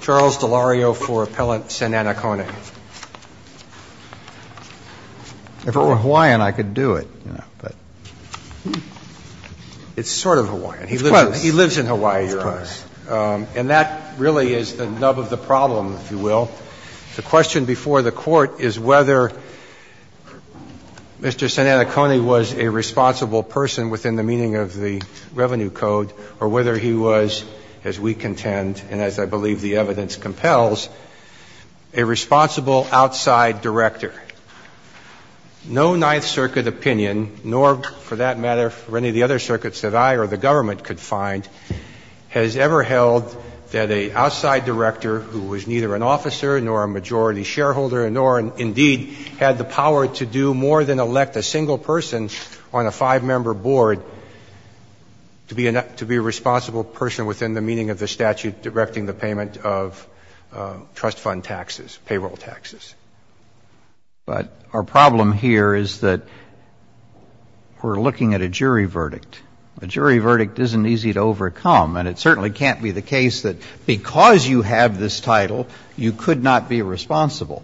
Charles DeLario for Appellant Sananikone. If it were Hawaiian, I could do it, you know, but. It's sort of Hawaiian. He lives in Hawaii, Your Honor. And that really is the nub of the problem, if you will. The question before the Court is whether Mr. Sananikone was a responsible person within the meaning of the Revenue Code or whether he was, as we contend and as I believe the evidence compels, a responsible outside director. No Ninth Circuit opinion, nor for that matter for any of the other circuits that I or the government could find, has ever held that an outside director who was neither an officer nor a majority shareholder nor indeed had the power to do more than elect a single person on a five-member board to be a responsible person within the meaning of the statute directing the payment of trust fund taxes, payroll taxes. But our problem here is that we're looking at a jury verdict. A jury verdict isn't easy to overcome. And it certainly can't be the case that because you have this title, you could not be responsible.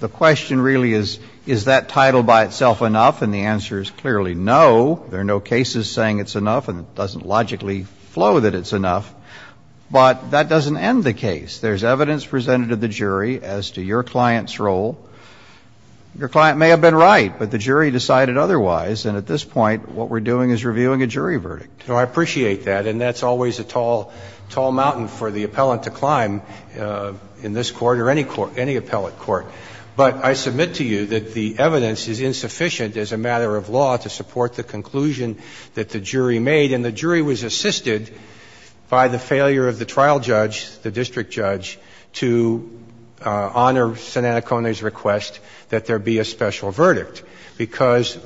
The question really is, is that title by itself enough? And the answer is clearly no. There are no cases saying it's enough, and it doesn't logically flow that it's enough. But that doesn't end the case. There's evidence presented to the jury as to your client's role. Your client may have been right, but the jury decided otherwise. And at this point, what we're doing is reviewing a jury verdict. Roberts. No, I appreciate that. And that's always a tall, tall mountain for the appellant to climb in this Court or any Court, any appellate Court. But I submit to you that the evidence is insufficient as a matter of law to support the conclusion that the jury made. And the jury was assisted by the failure of the trial judge, the district judge, to honor Sananacone's request that there be a special verdict. Because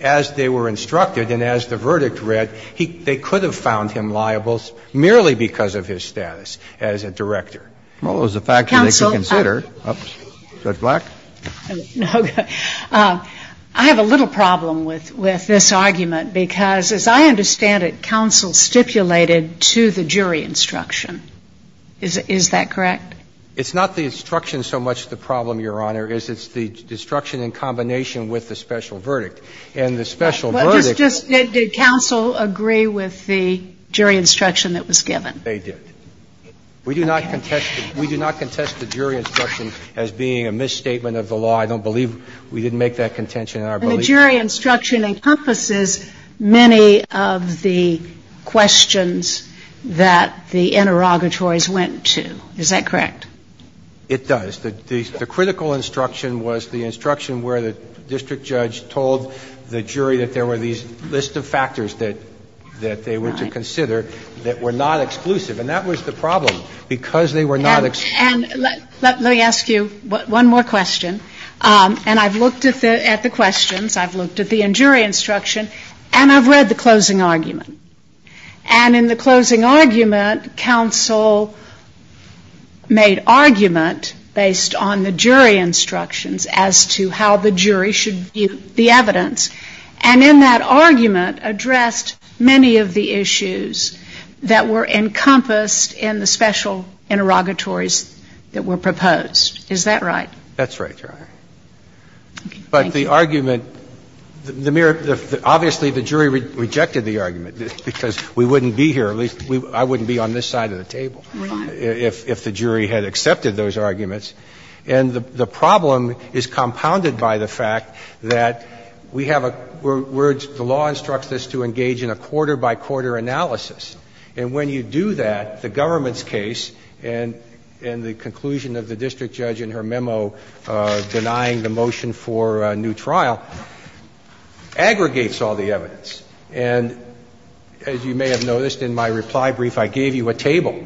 as they were instructed and as the verdict read, they could have found him liable merely because of his status as a director. Well, it was a fact that they could consider. Judge Black? I have a little problem with this argument because, as I understand it, counsel stipulated to the jury instruction. Is that correct? It's not the instruction so much the problem, Your Honor, is it's the instruction in combination with the special verdict. And the special verdict was that the jury instruction that was given. They did. We do not contest the jury instruction as being a misstatement of the law. I don't believe we didn't make that contention in our belief. And the jury instruction encompasses many of the questions that the interrogatories went to. Is that correct? It does. The critical instruction was the instruction where the district judge told the jury that there were these list of factors that they were to consider that were not exclusive. And that was the problem because they were not exclusive. And let me ask you one more question. And I've looked at the questions. I've looked at the jury instruction. And I've read the closing argument. And in the closing argument, counsel made argument based on the jury instructions as to how the jury should view the evidence. And in that argument addressed many of the issues that were encompassed in the special interrogatories that were proposed. Is that right? That's right, Your Honor. But the argument, the mere, obviously the jury rejected the argument because we wouldn't be here, at least I wouldn't be on this side of the table if the jury had accepted those arguments. And the problem is compounded by the fact that we have a – the law instructs us to engage in a quarter-by-quarter analysis. And when you do that, the government's case and the conclusion of the district judge in her memo denying the motion for a new trial aggregates all the evidence. And as you may have noticed in my reply brief, I gave you a table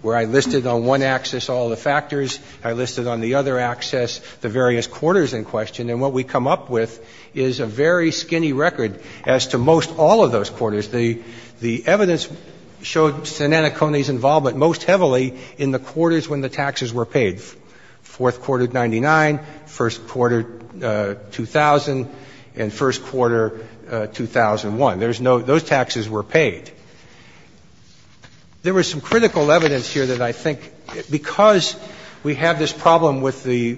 where I listed on one axis all the factors. I listed on the other axis the various quarters in question. And what we come up with is a very skinny record as to most all of those quarters. The evidence showed Sinanacone's involvement most heavily in the quarters when the taxes were paid, fourth quarter, 99, first quarter, 2000, and first quarter, 2001. There's no – those taxes were paid. There was some critical evidence here that I think, because we have this problem with the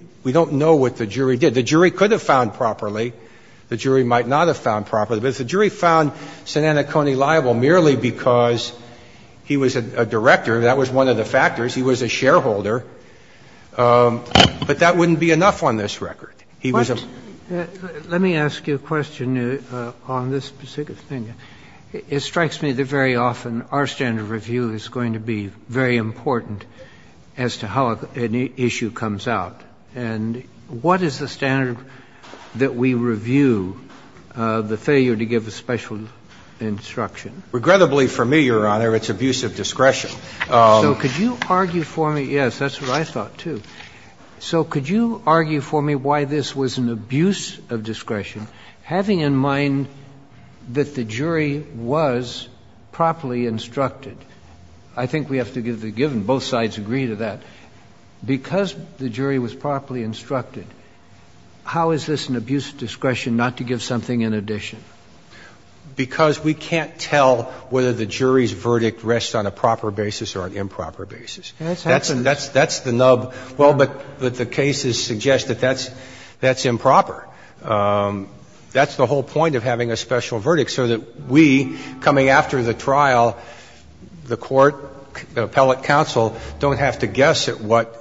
– we don't know what the jury did. The jury could have found properly. The jury might not have found properly. But if the jury found Sinanacone liable merely because he was a director, that was one of the factors, he was a shareholder, but that wouldn't be enough on this record. He was a – Let me ask you a question on this particular thing. It strikes me that very often our standard of review is going to be very important as to how an issue comes out. And what is the standard that we review the failure to give a special instruction? Regrettably for me, Your Honor, it's abuse of discretion. So could you argue for me – yes, that's what I thought, too. So could you argue for me why this was an abuse of discretion, having in mind that the jury was properly instructed? I think we have to give the given. Both sides agree to that. Because the jury was properly instructed, how is this an abuse of discretion not to give something in addition? Because we can't tell whether the jury's verdict rests on a proper basis or an improper basis. That's the nub. Well, but the cases suggest that that's improper. That's the whole point of having a special verdict, so that we, coming after the trial, the court, the appellate counsel, don't have to guess at what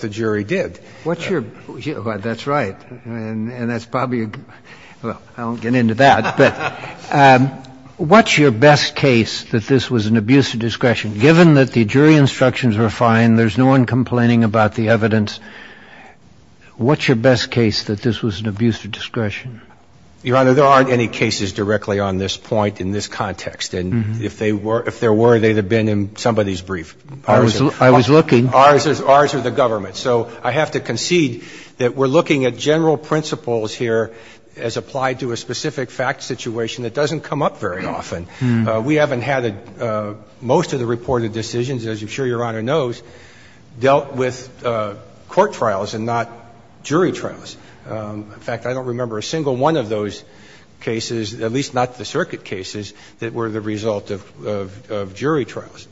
the jury did. What's your – that's right. And that's probably a – well, I won't get into that. But what's your best case that this was an abuse of discretion? Given that the jury instructions were fine, there's no one complaining about the evidence, what's your best case that this was an abuse of discretion? Your Honor, there aren't any cases directly on this point in this context. And if there were, they'd have been in somebody's brief. I was looking. Ours are the government. So I have to concede that we're looking at general principles here as applied to a specific fact situation that doesn't come up very often. We haven't had most of the reported decisions, as I'm sure Your Honor knows, dealt with court trials and not jury trials. In fact, I don't remember a single one of those cases, at least not the circuit cases, that were the result of jury trials.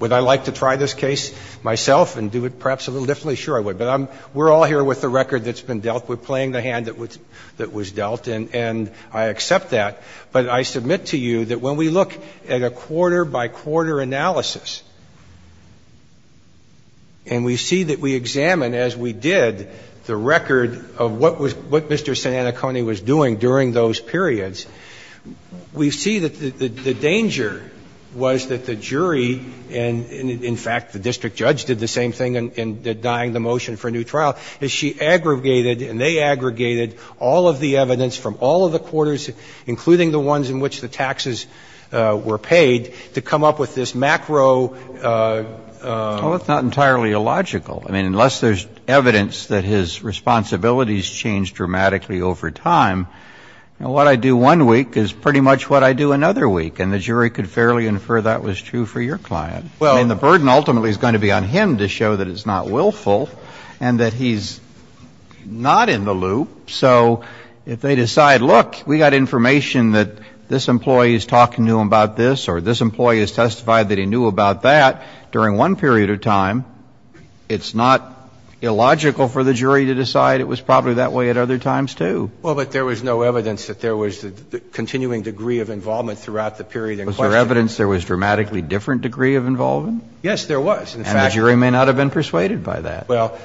Would I like to try this case myself and do it perhaps a little differently? Sure, I would. But I'm – we're all here with the record that's been dealt with, playing the hand that was dealt. And I accept that. But I submit to you that when we look at a quarter-by-quarter analysis, and we see that we examine, as we did, the record of what was – what Mr. Sananacone was doing during those periods, we see that the danger was that the jury and, in fact, the district judge did the same thing in denying the motion for a new trial, is she going to be able to use the evidence from all of the quarters, including the ones in which the taxes were paid, to come up with this macro – Well, it's not entirely illogical. I mean, unless there's evidence that his responsibilities changed dramatically over time, what I do one week is pretty much what I do another week. And the jury could fairly infer that was true for your client. I mean, the burden ultimately is going to be on him to show that it's not willful and that he's not in the loop. So if they decide, look, we got information that this employee is talking to him about this or this employee has testified that he knew about that during one period of time, it's not illogical for the jury to decide it was probably that way at other times, too. Well, but there was no evidence that there was a continuing degree of involvement throughout the period in question. Was there evidence there was a dramatically different degree of involvement? Yes, there was. And the jury may not have been persuaded by that. Well,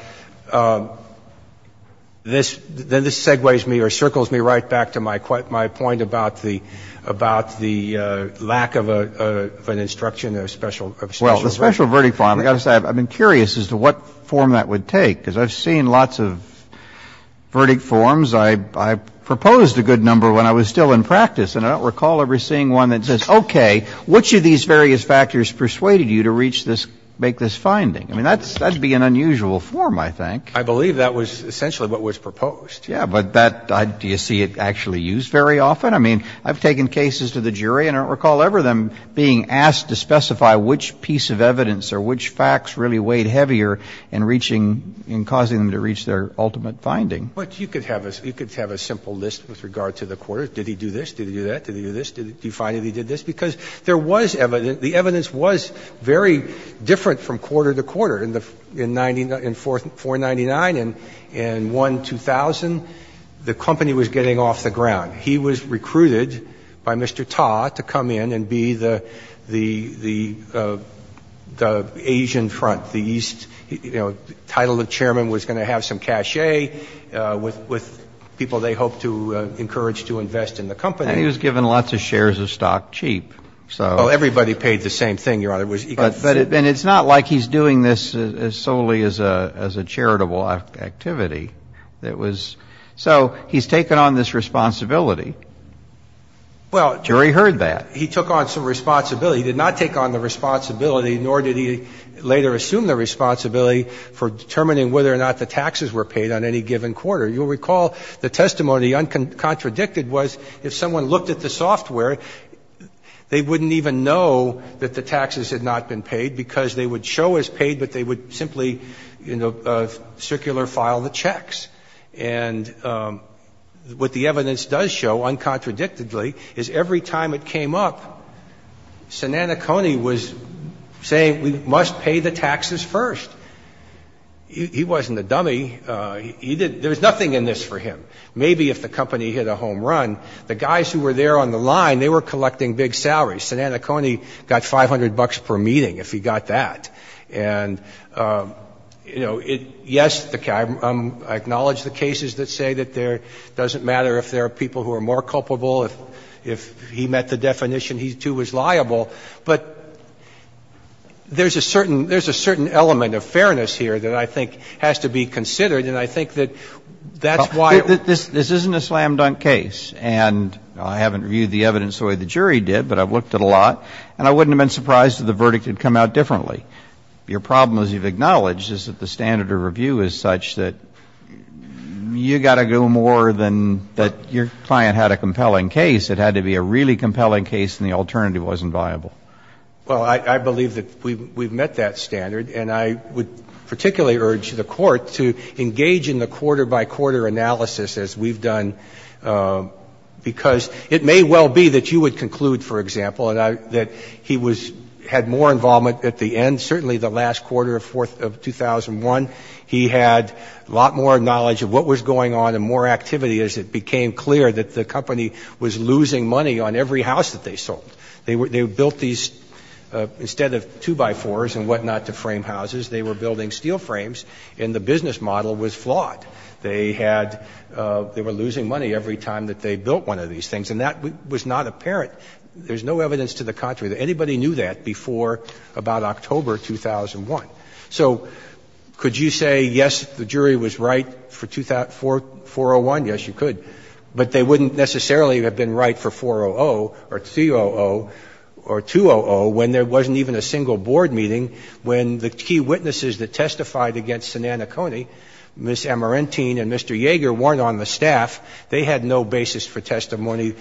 this segues me or circles me right back to my point about the lack of an instruction or special verdict. Well, the special verdict, I've got to say, I've been curious as to what form that would take, because I've seen lots of verdict forms. I proposed a good number when I was still in practice, and I don't recall ever seeing one that says, okay, which of these various factors persuaded you to reach this – make this finding? I mean, that's – that would be an unusual form, I think. I believe that was essentially what was proposed. Yeah, but that – do you see it actually used very often? I mean, I've taken cases to the jury and I don't recall ever them being asked to specify which piece of evidence or which facts really weighed heavier in reaching – in causing them to reach their ultimate finding. But you could have a – you could have a simple list with regard to the quarter. Did he do this? Did he do that? Did he do this? Did he find that he did this? Because there was – the evidence was very different from quarter to quarter. In the – in 499, in 1-2000, the company was getting off the ground. He was recruited by Mr. Ta to come in and be the Asian front, the East – you know, the title of chairman was going to have some cachet with people they hoped to encourage to invest in the company. And he was given lots of shares of stock cheap. So – Oh, everybody paid the same thing, Your Honor. It was – But – and it's not like he's doing this solely as a charitable activity. It was – so he's taken on this responsibility. Well – The jury heard that. He took on some responsibility. He did not take on the responsibility, nor did he later assume the responsibility for determining whether or not the taxes were paid on any given quarter. You'll recall the testimony, uncontradicted, was if someone looked at the software, they wouldn't even know that the taxes had not been paid because they would show as paid, but they would simply, you know, circular file the checks. And what the evidence does show, uncontradictedly, is every time it came up, Sinanakone was saying we must pay the taxes first. He wasn't a dummy. He did – there was nothing in this for him. Maybe if the company hit a home run, the guys who were there on the line, they were collecting big salaries. Sinanakone got 500 bucks per meeting if he got that. And, you know, it – yes, I acknowledge the cases that say that there – it doesn't matter if there are people who are more culpable. If he met the definition, he, too, was liable. But there's a certain – there's a certain element of fairness here that I think has to be considered, and I think that that's why – But this isn't a slam-dunk case, and I haven't reviewed the evidence the way the jury did, but I've looked at a lot, and I wouldn't have been surprised if the verdict had come out differently. Your problem, as you've acknowledged, is that the standard of review is such that you've got to go more than that your client had a compelling case. It had to be a really compelling case, and the alternative wasn't viable. Well, I believe that we've met that standard. And I would particularly urge the Court to engage in the quarter-by-quarter analysis, as we've done, because it may well be that you would conclude, for example, that he was – had more involvement at the end, certainly the last quarter of 2001. He had a lot more knowledge of what was going on and more activity as it became clear that the company was losing money on every house that they sold. They built these – instead of two-by-fours and whatnot to frame houses, they were building steel frames, and the business model was flawed. They had – they were losing money every time that they built one of these things, and that was not apparent. There's no evidence to the contrary. Anybody knew that before about October 2001. So could you say, yes, the jury was right for 401? Yes, you could. But they wouldn't necessarily have been right for 400 or 200 or 200 when there wasn't even a single board meeting, when the key witnesses that testified against Sananacone, Ms. Amarentine and Mr. Yeager, weren't on the staff. They had no basis for testimony.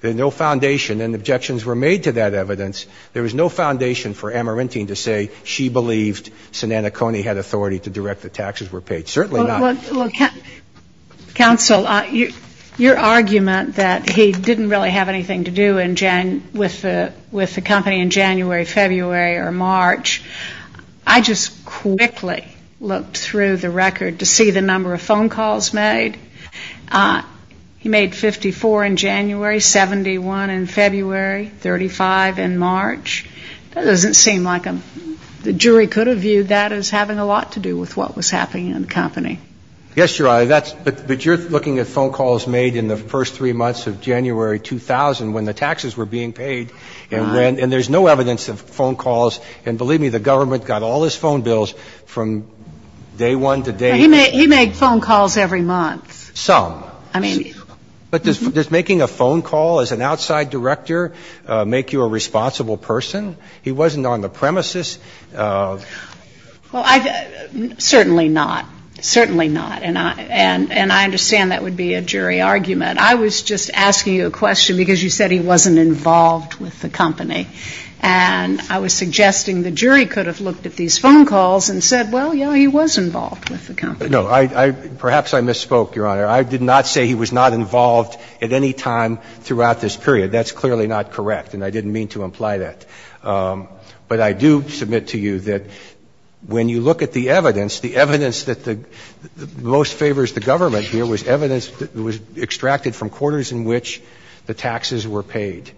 There's no foundation, and objections were made to that evidence. There was no foundation for Amarentine to say she believed Sananacone had authority to direct the taxes were paid. Certainly not. Well, counsel, your argument that he didn't really have anything to do with the company in January, February, or March, I just quickly looked through the record to see the number of phone calls made. He made 54 in January, 71 in February, 35 in March. That doesn't seem like – the jury could have viewed that as having a lot to do with what was happening in the company. Yes, Your Honor, but you're looking at phone calls made in the first three months of January 2000 when the taxes were being paid, and there's no evidence of phone calls, and believe me, the government got all his phone bills from day one to day – He made phone calls every month. Some. I mean – But does making a phone call as an outside director make you a responsible person? He wasn't on the premises. Well, certainly not. Certainly not. And I understand that would be a jury argument. I was just asking you a question because you said he wasn't involved with the company, and I was suggesting the jury could have looked at these phone calls and said, well, yes, he was involved with the company. No. Perhaps I misspoke, Your Honor. I did not say he was not involved at any time throughout this period. That's clearly not correct, and I didn't mean to imply that. But I do submit to you that when you look at the evidence, the evidence that most favors the government here was evidence that was extracted from quarters in which the taxes were paid.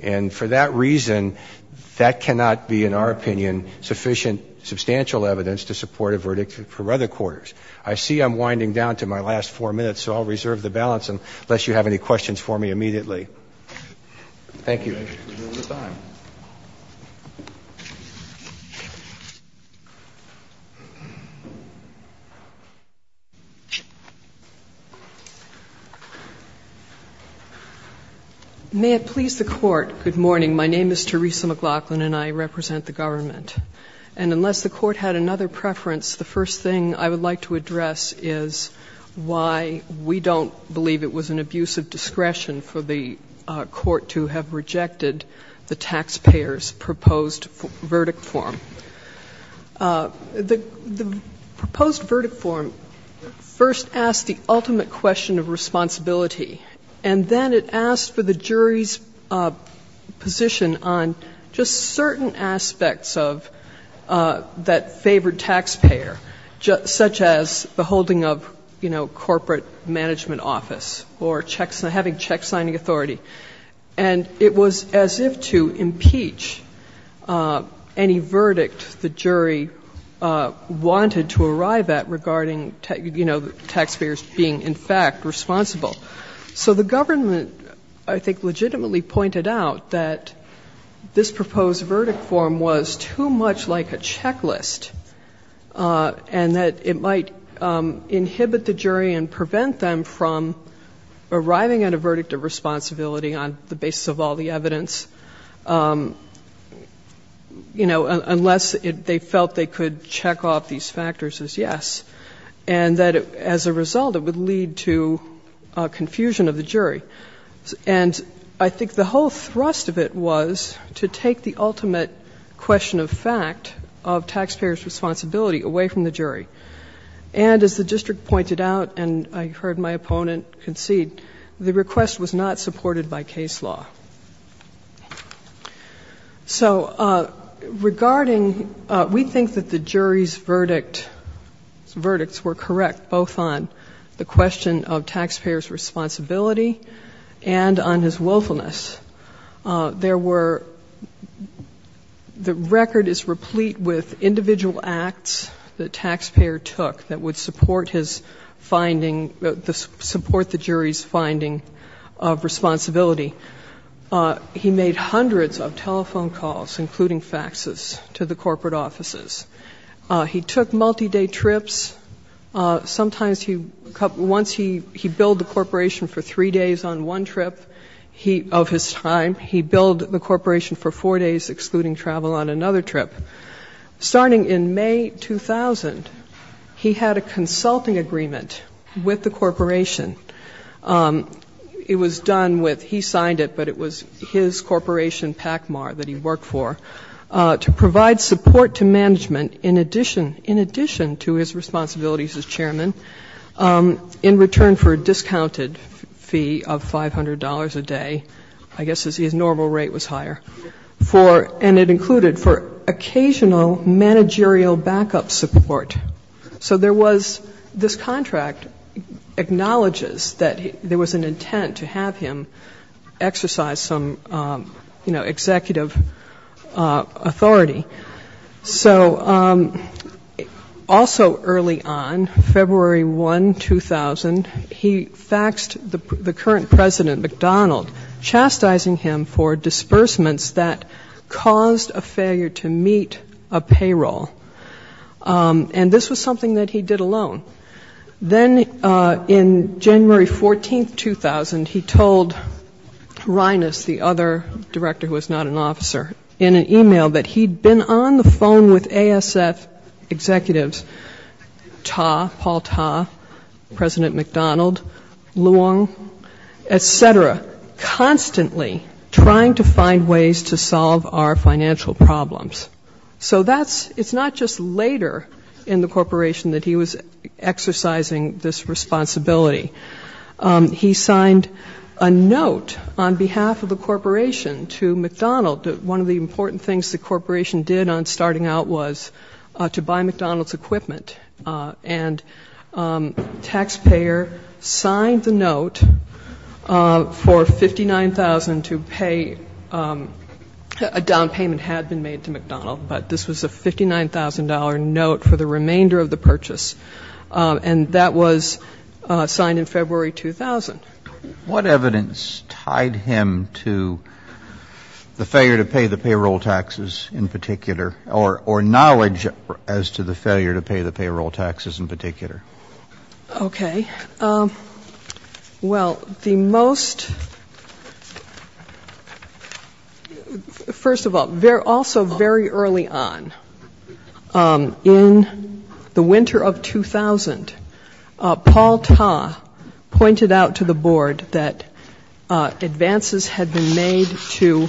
And for that reason, that cannot be, in our opinion, sufficient substantial evidence to support a verdict for other quarters. I see I'm winding down to my last four minutes, so I'll reserve the balance unless you have any questions for me immediately. Thank you. Thank you, Judge. We'll move on. May it please the Court, good morning. My name is Teresa McLaughlin, and I represent the government. And unless the Court had another preference, the first thing I would like to address is why we don't believe it was an abuse of discretion for the Court to have rejected the taxpayers' proposed verdict form. The proposed verdict form first asked the ultimate question of responsibility, and then it asked for the jury's position on just certain aspects of that favored taxpayer, such as the holding of, you know, corporate management office or having checksigning authority. And it was as if to impeach any verdict the jury wanted to arrive at regarding, you know, taxpayers being, in fact, responsible. So the government, I think, legitimately pointed out that this proposed verdict form was too much like a checklist and that it might inhibit the jury and prevent them from arriving at a verdict of responsibility on the basis of all the evidence, you know, unless they felt they could check off these factors as yes, and that as a result it would lead to confusion of the jury. And I think the whole thrust of it was to take the ultimate question of fact of taxpayers' responsibility away from the jury. And as the district pointed out, and I heard my opponent concede, the request was not supported by case law. So regarding we think that the jury's verdicts were correct, both on the question of responsibility and on his willfulness, there were the record is replete with individual acts the taxpayer took that would support his finding, support the jury's finding of responsibility. He made hundreds of telephone calls, including faxes, to the corporate offices. He took multi-day trips. Sometimes he, once he billed the corporation for three days on one trip of his time, he billed the corporation for four days, excluding travel on another trip. Starting in May 2000, he had a consulting agreement with the corporation. It was done with, he signed it, but it was his corporation, PACMAR, that he worked for, to provide support to management in addition, in addition to his responsibilities as chairman, in return for a discounted fee of $500 a day, I guess his normal rate was higher, for, and it included for occasional managerial backup support. So there was, this contract acknowledges that there was an intent to have him exercise some, you know, executive authority. So also early on, February 1, 2000, he faxed the current president, McDonald, chastising him for disbursements that caused a failure to meet a payroll. And this was something that he did alone. Then in January 14, 2000, he told Reines, the other director who was not an officer, in an e-mail that he'd been on the phone with ASF executives, Ta, Paul Ta, President McDonald, Luong, et cetera, constantly trying to find ways to solve our financial problems. So that's, it's not just later in the corporation that he was exercising this responsibility. He signed a note on behalf of the corporation to McDonald that one of the important things the corporation did on starting out was to buy McDonald's equipment. And taxpayer signed the note for 59,000 to pay, a down payment had been made to McDonald's but this was a $59,000 note for the remainder of the purchase. And that was signed in February, 2000. What evidence tied him to the failure to pay the payroll taxes in particular, or knowledge as to the failure to pay the payroll taxes in particular? Okay. Well, the most, first of all, also very early on in his career, he was not a taxpayer, but early on, in the winter of 2000, Paul Ta pointed out to the board that advances had been made to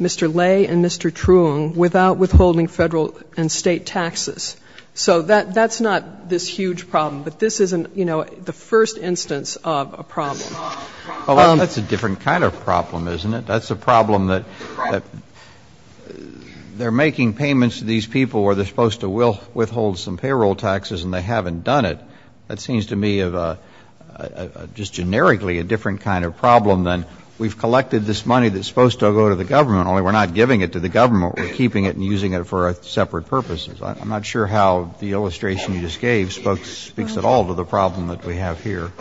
Mr. Lay and Mr. Truong without withholding federal and state taxes. So that's not this huge problem, but this isn't, you know, the first instance of a problem. That's a different kind of problem, isn't it? That's a problem that they're making payments to these people where they're supposed to withhold some payroll taxes and they haven't done it. That seems to me just generically a different kind of problem than we've collected this money that's supposed to go to the government, only we're not giving it to the government, we're keeping it and using it for separate purposes. I'm not sure how the illustration you just gave speaks at all to the problem that we have here.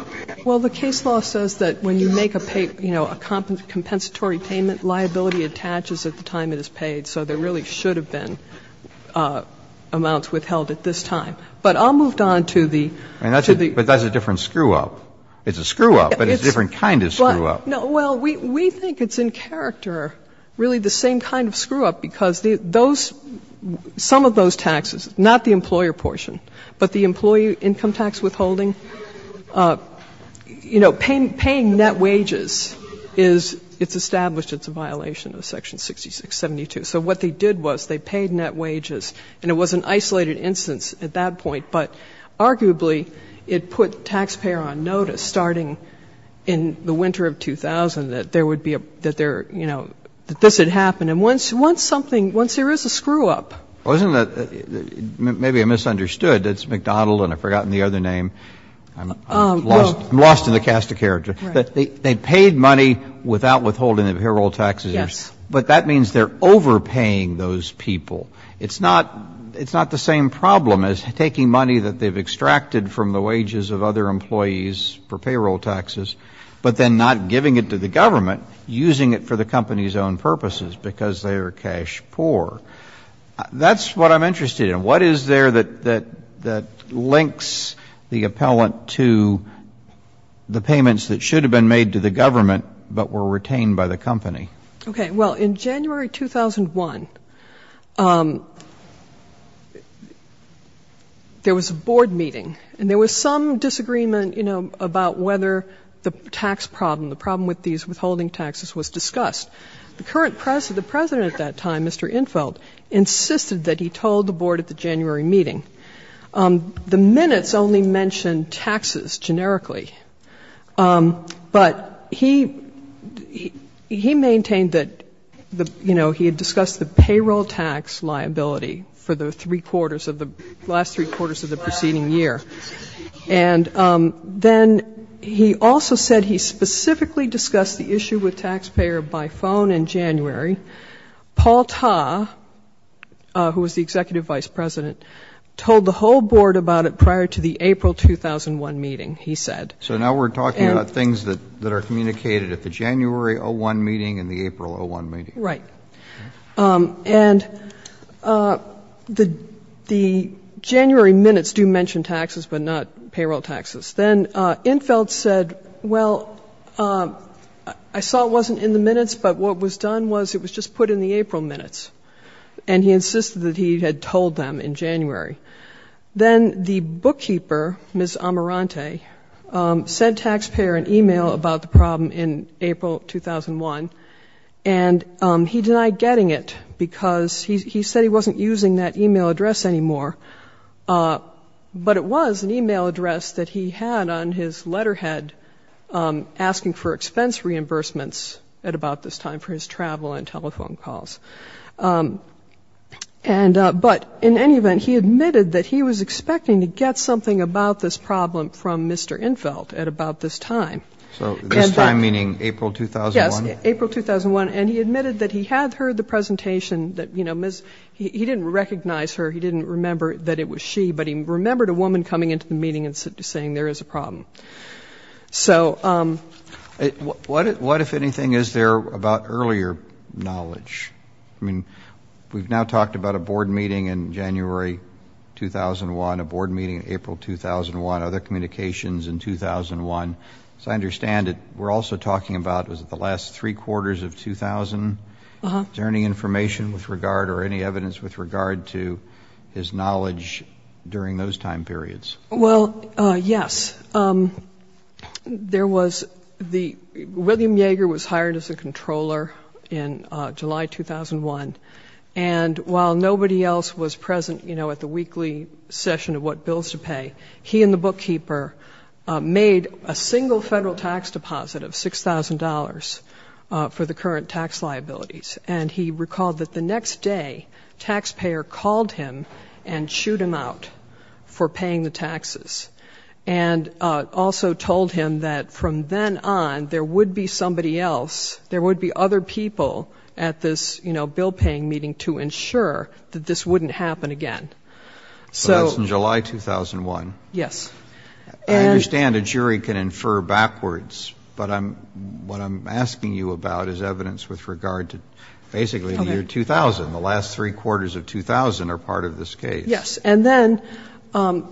Well, the case law says that when you make a pay, you know, a compensatory payment, liability attaches at the time it is paid. So there really should have been amounts withheld at this time. But I'll move on to the other. But that's a different screw-up. It's a screw-up, but it's a different kind of screw-up. Well, we think it's in character really the same kind of screw-up because those, some of those taxes, not the employer portion, but the employee income tax withholding, you know, paying net wages is, it's established it's a violation of Section 6672. So what they did was they paid net wages, and it was an isolated instance at that point, but arguably it put taxpayer on notice starting in the winter of 2000 that there would be a, that there, you know, that this had happened. And once something, once there is a screw-up. Wasn't it, maybe I misunderstood, it's McDonald and I've forgotten the other name. I'm lost in the cast of character. They paid money without withholding the payroll taxes, but that means they're overpaying those people. It's not, it's not the same problem as taking money that they've extracted from the wages of other employees for payroll taxes, but then not giving it to the government, using it for the company's own purposes because they are cash poor. That's what I'm interested in. What is there that, that, that links the appellant to the payments that should have been made to the government, but were retained by the company? Okay, well, in January 2001, there was a board meeting, and there was some disagreement, you know, about whether the tax problem, the problem with these withholding taxes was discussed. The current president, the president at that time, Mr. Infeld, insisted that he told the board at the January meeting. The minutes only mentioned taxes, generically, but he, he maintained that, you know, he had discussed the payroll tax liability for the three quarters of the, last three quarters of the preceding year. And then he also said he specifically discussed the issue with taxpayer by phone in January. Paul Ta, who was the executive vice president, told the whole board about it prior to the April 2001 meeting, he said. So now we're talking about things that, that are communicated at the January 01 meeting and the April 01 meeting. Right. And the, the January minutes do mention taxes, but not payroll taxes. Then Infeld said, well, I saw it wasn't in the minutes, but what was done was it was just put in the April minutes. And he insisted that he had told them in January. Then the bookkeeper, Ms. Amirante, sent taxpayer an e-mail about the problem in April 2001, and he denied discussion. He denied getting it because he, he said he wasn't using that e-mail address anymore, but it was an e-mail address that he had on his letterhead asking for expense reimbursements at about this time for his travel and telephone calls. And, but in any event, he admitted that he was expecting to get something about this problem from Mr. Infeld at about this time. So this time meaning April 2001? Yes, April 2001. And he admitted that he had heard the presentation that, you know, Ms., he didn't recognize her, he didn't remember that it was she, but he remembered a woman coming into the meeting and saying there is a problem. So what, what if anything is there about earlier knowledge? I mean, we've now talked about a board meeting in January 2001, a board meeting in April 2001, other communications in 2001. I understand that we're also talking about, was it the last three quarters of 2000? Is there any information with regard or any evidence with regard to his knowledge during those time periods? Well, yes. There was the, William Yeager was hired as a controller in July 2001, and while nobody else was present, you know, at the weekly session of what bills to pay, he and the bookkeeper made a single federal tax return. He made a tax deposit of $6,000 for the current tax liabilities, and he recalled that the next day, taxpayer called him and chewed him out for paying the taxes, and also told him that from then on, there would be somebody else, there would be other people at this, you know, bill-paying meeting to ensure that this wouldn't happen again. So that's in July 2001? Yes. And then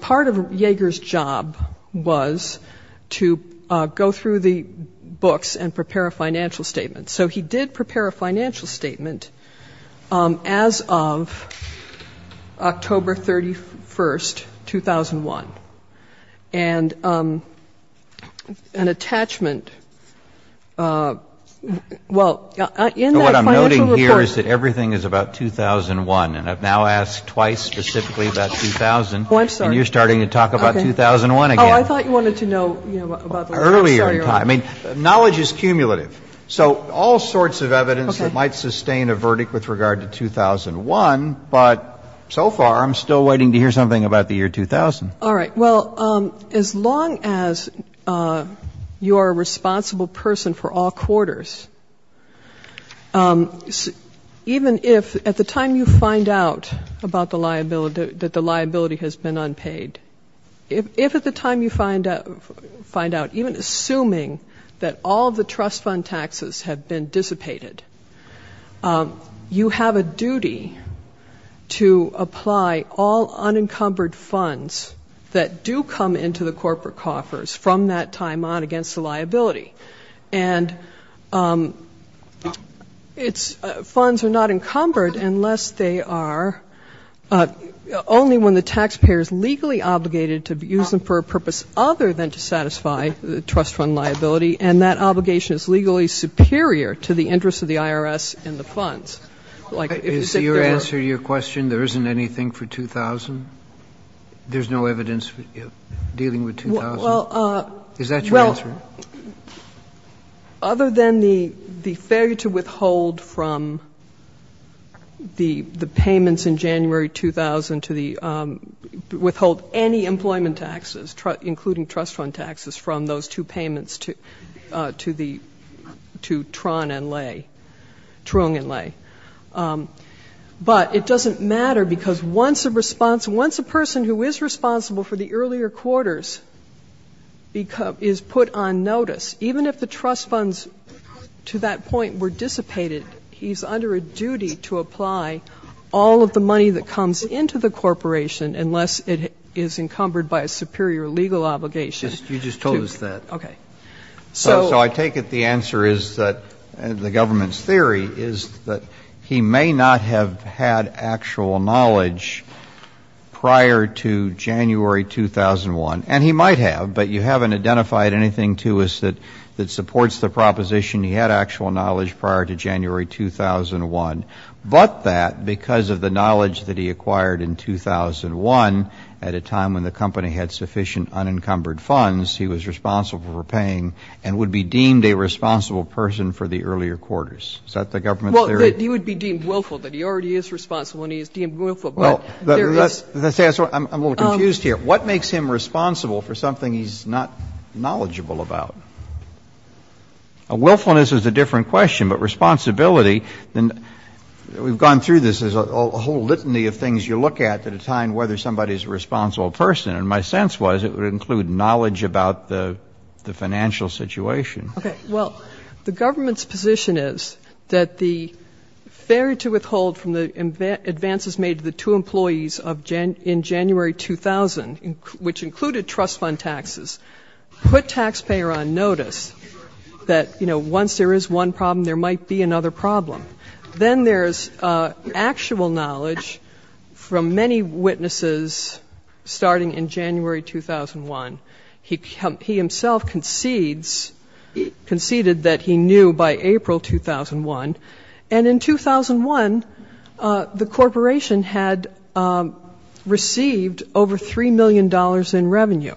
part of Yeager's job was to go through the books and prepare a financial statement. So he did prepare a financial statement as of October 31, 2001, and an attachment was made to Yeager's book. And then in that attachment, well, in that financial report ---- What I'm noting here is that everything is about 2001, and I've now asked twice specifically about 2000. Oh, I'm sorry. And you're starting to talk about 2001 again. Oh, I thought you wanted to know, you know, about the last time. Earlier in time. I mean, knowledge is cumulative, so all sorts of evidence that might sustain a verdict with regard to 2001, but so far I'm still waiting to hear something about the year 2000. I think it's important to know that you are a responsible person for all quarters, even if at the time you find out about the liability, that the liability has been unpaid, if at the time you find out, even assuming that all of the trust fund taxes have been dissipated, you have a duty to apply all unencumbered funds that do come into the trust fund liability, and it's ---- funds are not encumbered unless they are only when the taxpayer is legally obligated to use them for a purpose other than to satisfy the trust fund liability, and that obligation is legally superior to the interest of the IRS in the funds. Like, if you sit there ---- Is your answer to your question, there isn't anything for 2000? There's no evidence dealing with 2000? Is that your answer? Well, other than the failure to withhold from the payments in January 2000 to the ---- withhold any employment taxes, including trust fund taxes, from those two payments to Tron and Lay, Tron and Lay. But it doesn't matter because once a response ---- once a person who is responsible for the earlier quarters is put on notice, even if the trust funds to that point were dissipated, he's under a duty to apply all of the money that comes into the corporation unless it is encumbered by a superior legal obligation to ---- You just told us that. Okay. So I take it the answer is that the government's theory is that he may not have had actual knowledge prior to January 2001. And he might have, but you haven't identified anything to us that supports the proposition he had actual knowledge prior to January 2001. But that, because of the knowledge that he acquired in 2001 at a time when the company had sufficient unencumbered funds, he was responsible for paying a large amount of money. And would be deemed a responsible person for the earlier quarters. Is that the government's theory? Well, he would be deemed willful, that he already is responsible and he is deemed willful. But there is ---- Well, let's say I'm a little confused here. What makes him responsible for something he's not knowledgeable about? A willfulness is a different question. But responsibility, we've gone through this. There's a whole litany of things you look at at a time whether somebody is a responsible person. And my sense was it would include knowledge about the financial situation. Okay. Well, the government's position is that the failure to withhold from the advances made to the two employees in January 2000, which included trust fund taxes, put taxpayer on notice that, you know, once there is one problem, there might be another problem. Then there's actual knowledge from many witnesses starting in January 2001. He himself concedes, conceded that he knew by April 2001. And in 2001, the corporation had received over $3 million in revenue.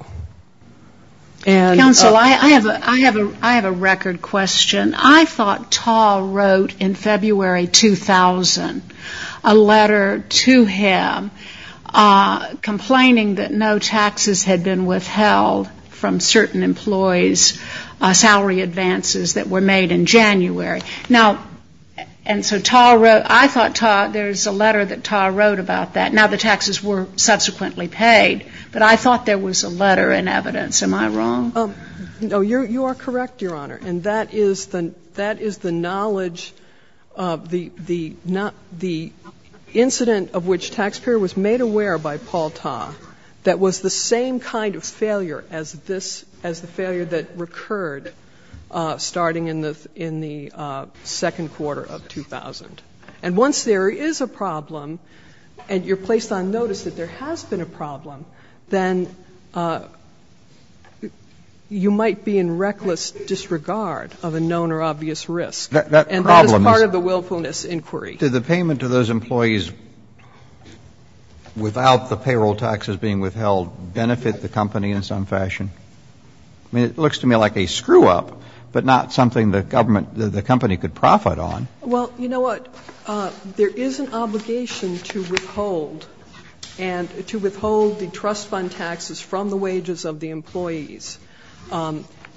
Counsel, I have a record question. I thought Tal wrote in February 2000 a letter to him complaining that no taxes had been withheld from certain employees' salary advances that were made in January. Now, and so Tal wrote, I thought Tal, there's a letter that Tal wrote about that. Now, the taxes were subsequently paid, but I thought there was a letter in evidence. Am I wrong? No, you are correct, Your Honor. And that is the knowledge, the incident of which taxpayer was made aware by Paul Tal that was the same kind of failure as this, as the failure that recurred starting in the second quarter of 2000. And once there is a problem, and you're placed on notice that there has been a problem, then you might be in reckless disregard of the fact that there has been a problem. You might be in reckless disregard of a known or obvious risk. That problem is... And that is part of the willfulness inquiry. Did the payment to those employees without the payroll taxes being withheld benefit the company in some fashion? I mean, it looks to me like a screw-up, but not something the government, the company could profit on. Well, you know what, there is an obligation to withhold, and to withhold the trust fund taxes from the wages of the employees.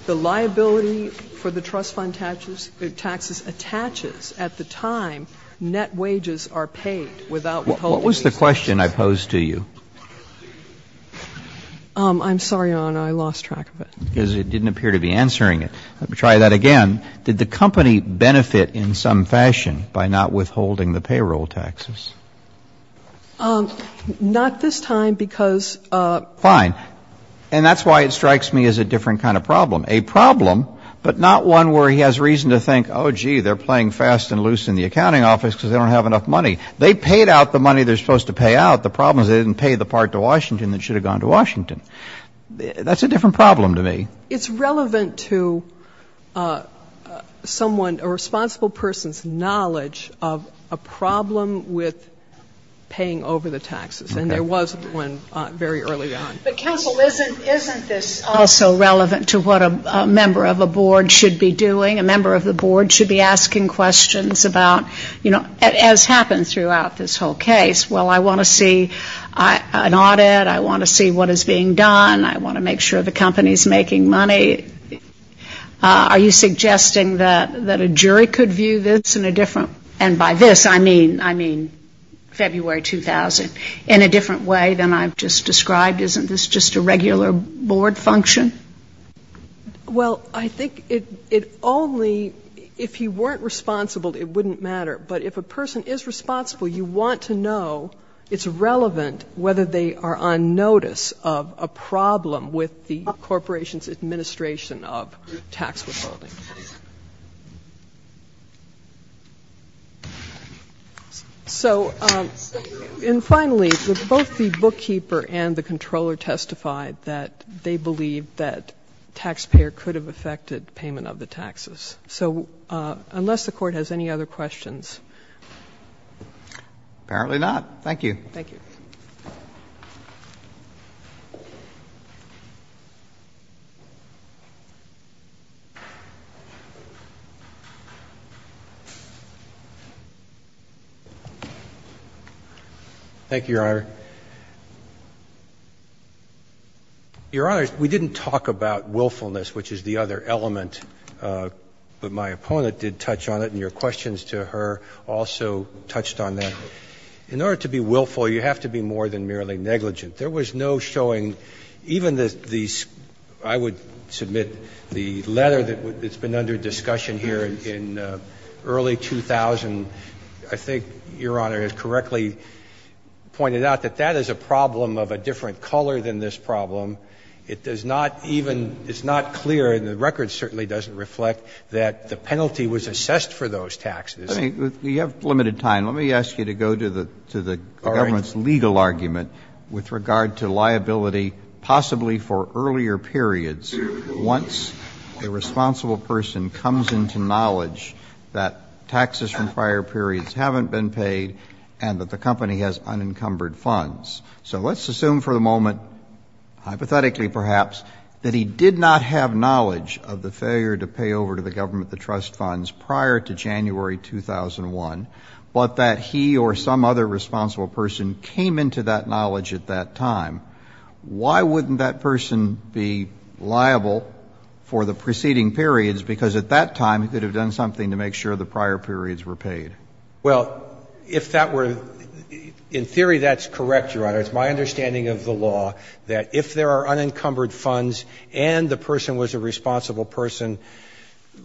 The liability for the trust fund taxes attaches at the time net wages are paid without withholding these taxes. What was the question I posed to you? I'm sorry, Your Honor, I lost track of it. Because it didn't appear to be answering it. Let me try that again. Did the company benefit in some fashion by not withholding the payroll taxes? Not this time, because... Fine. And that's why it strikes me as a different kind of problem. A problem, but not one where he has reason to think, oh, gee, they're playing fast and loose in the accounting office because they don't have enough money. They paid out the money they're supposed to pay out. The problem is they didn't pay the part to Washington that should have gone to Washington. That's a different problem to me. It's relevant to someone, a responsible person's knowledge of a problem with paying over the taxes, and there was one very early on. Counsel, isn't this also relevant to what a member of a board should be doing? A member of the board should be asking questions about, as happens throughout this whole case, well, I want to see an audit, I want to see what is being done, I want to make sure the company is making money. Are you suggesting that a jury could view this in a different, and by this I mean February 2000, in a different way than I've just described? Isn't this just a regular board function? Well, I think it only, if you weren't responsible, it wouldn't matter. But if a person is responsible, you want to know it's relevant whether they are on notice of a problem with the corporation's administration of tax withholding. So, and finally, both the bookkeeper and the controller testified that they believed that taxpayer could have affected payment of the taxes. So unless the Court has any other questions. Apparently not. Thank you. Thank you. Thank you, Your Honor. Your Honor, we didn't talk about willfulness, which is the other element, but my opponent did touch on it and your questions to her also touched on that. In order to be willful, you have to be more than merely negligent. But there was no showing, even the, I would submit, the letter that's been under discussion here in early 2000, I think Your Honor has correctly pointed out that that is a problem of a different color than this problem. It does not even, it's not clear, and the record certainly doesn't reflect, that the penalty was assessed for those taxes. Let me, we have limited time, let me ask you to go to the government's legal argument with regard to liability possibly for earlier periods once a responsible person comes into knowledge that taxes from prior periods haven't been paid and that the company has unencumbered funds. So let's assume for the moment, hypothetically perhaps, that he did not have knowledge of the failure to pay over to the government the trust funds prior to January 2001, but that he or some other responsible person came into that knowledge at that time. Why wouldn't that person be liable for the preceding periods, because at that time he could have done something to make sure the prior periods were paid? Well, if that were, in theory that's correct, Your Honor. It's my understanding of the law that if there are unencumbered funds and the person was a responsible person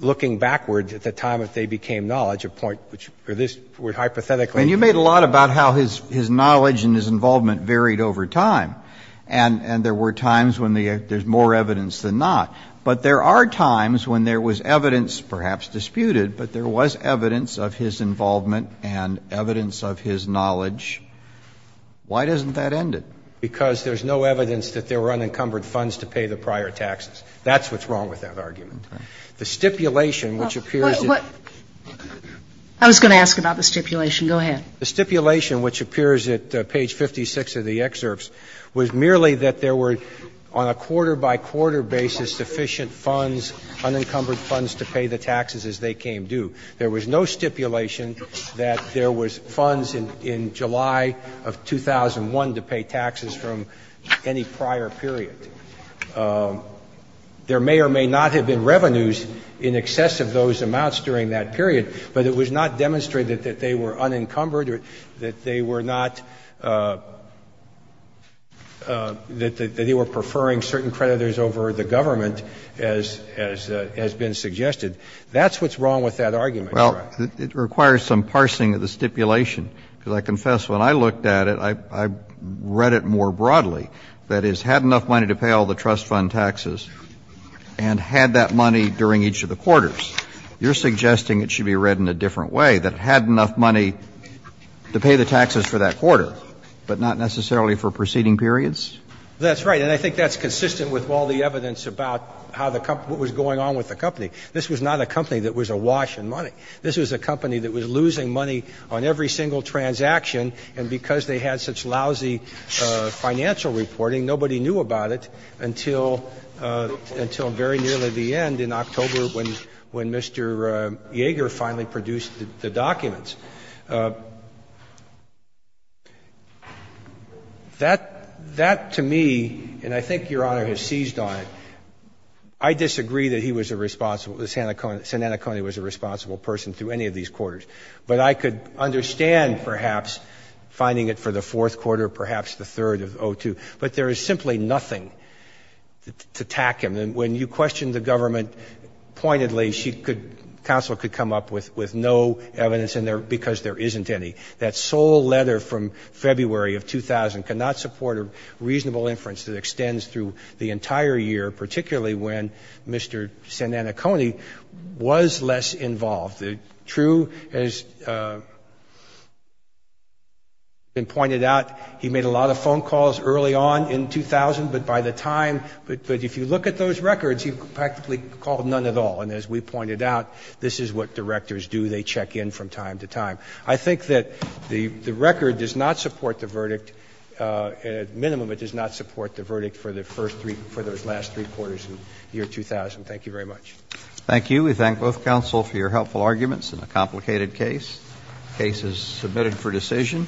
looking backwards at the time that they became knowledge, a point which this would hypothetically. And you made a lot about how his knowledge and his involvement varied over time, and there were times when there's more evidence than not. But there are times when there was evidence, perhaps disputed, but there was evidence of his involvement and evidence of his knowledge. Why doesn't that end it? Because there's no evidence that there were unencumbered funds to pay the prior taxes. That's what's wrong with that argument. The stipulation which appears to be. I was going to ask about the stipulation. Go ahead. The stipulation which appears at page 56 of the excerpts was merely that there were on a quarter-by-quarter basis sufficient funds, unencumbered funds to pay the taxes as they came due. There was no stipulation that there was funds in July of 2001 to pay taxes from any prior period. There may or may not have been revenues in excess of those amounts during that period, but it was not demonstrated that they were unencumbered or that they were not, that they were preferring certain creditors over the government as has been suggested. That's what's wrong with that argument, Your Honor. Well, it requires some parsing of the stipulation, because I confess when I looked at it, I read it more broadly. That is, had enough money to pay all the trust fund taxes and had that money during each of the quarters. You're suggesting it should be read in a different way, that had enough money to pay the taxes for that quarter, but not necessarily for preceding periods? That's right. And I think that's consistent with all the evidence about how the company, what was going on with the company. This was not a company that was awash in money. This was a company that was losing money on every single transaction, and because they had such lousy financial reporting, nobody knew about it until very nearly the end in October when Mr. Yeager finally produced the documents. That, to me, and I think Your Honor has seized on it, I disagree that he was a responsible the Sananacone was a responsible person through any of these quarters. But I could understand perhaps finding it for the fourth quarter, perhaps the third of O2, but there is simply nothing to tack him. And when you question the government pointedly, she could, counsel could come up with no evidence in there because there isn't any. That sole letter from February of 2000 cannot support a reasonable inference that extends through the entire year, particularly when Mr. Sananacone was less involved. The true, as has been pointed out, he made a lot of phone calls early on in 2000, but by the time, but if you look at those records, he practically called none at all. And as we pointed out, this is what directors do. They check in from time to time. I think that the record does not support the verdict, at minimum, it does not support the verdict for the first three, for those last three quarters in the year 2000. Thank you very much. Roberts. Thank you. We thank both counsel for your helpful arguments in a complicated case. The case is submitted for decision.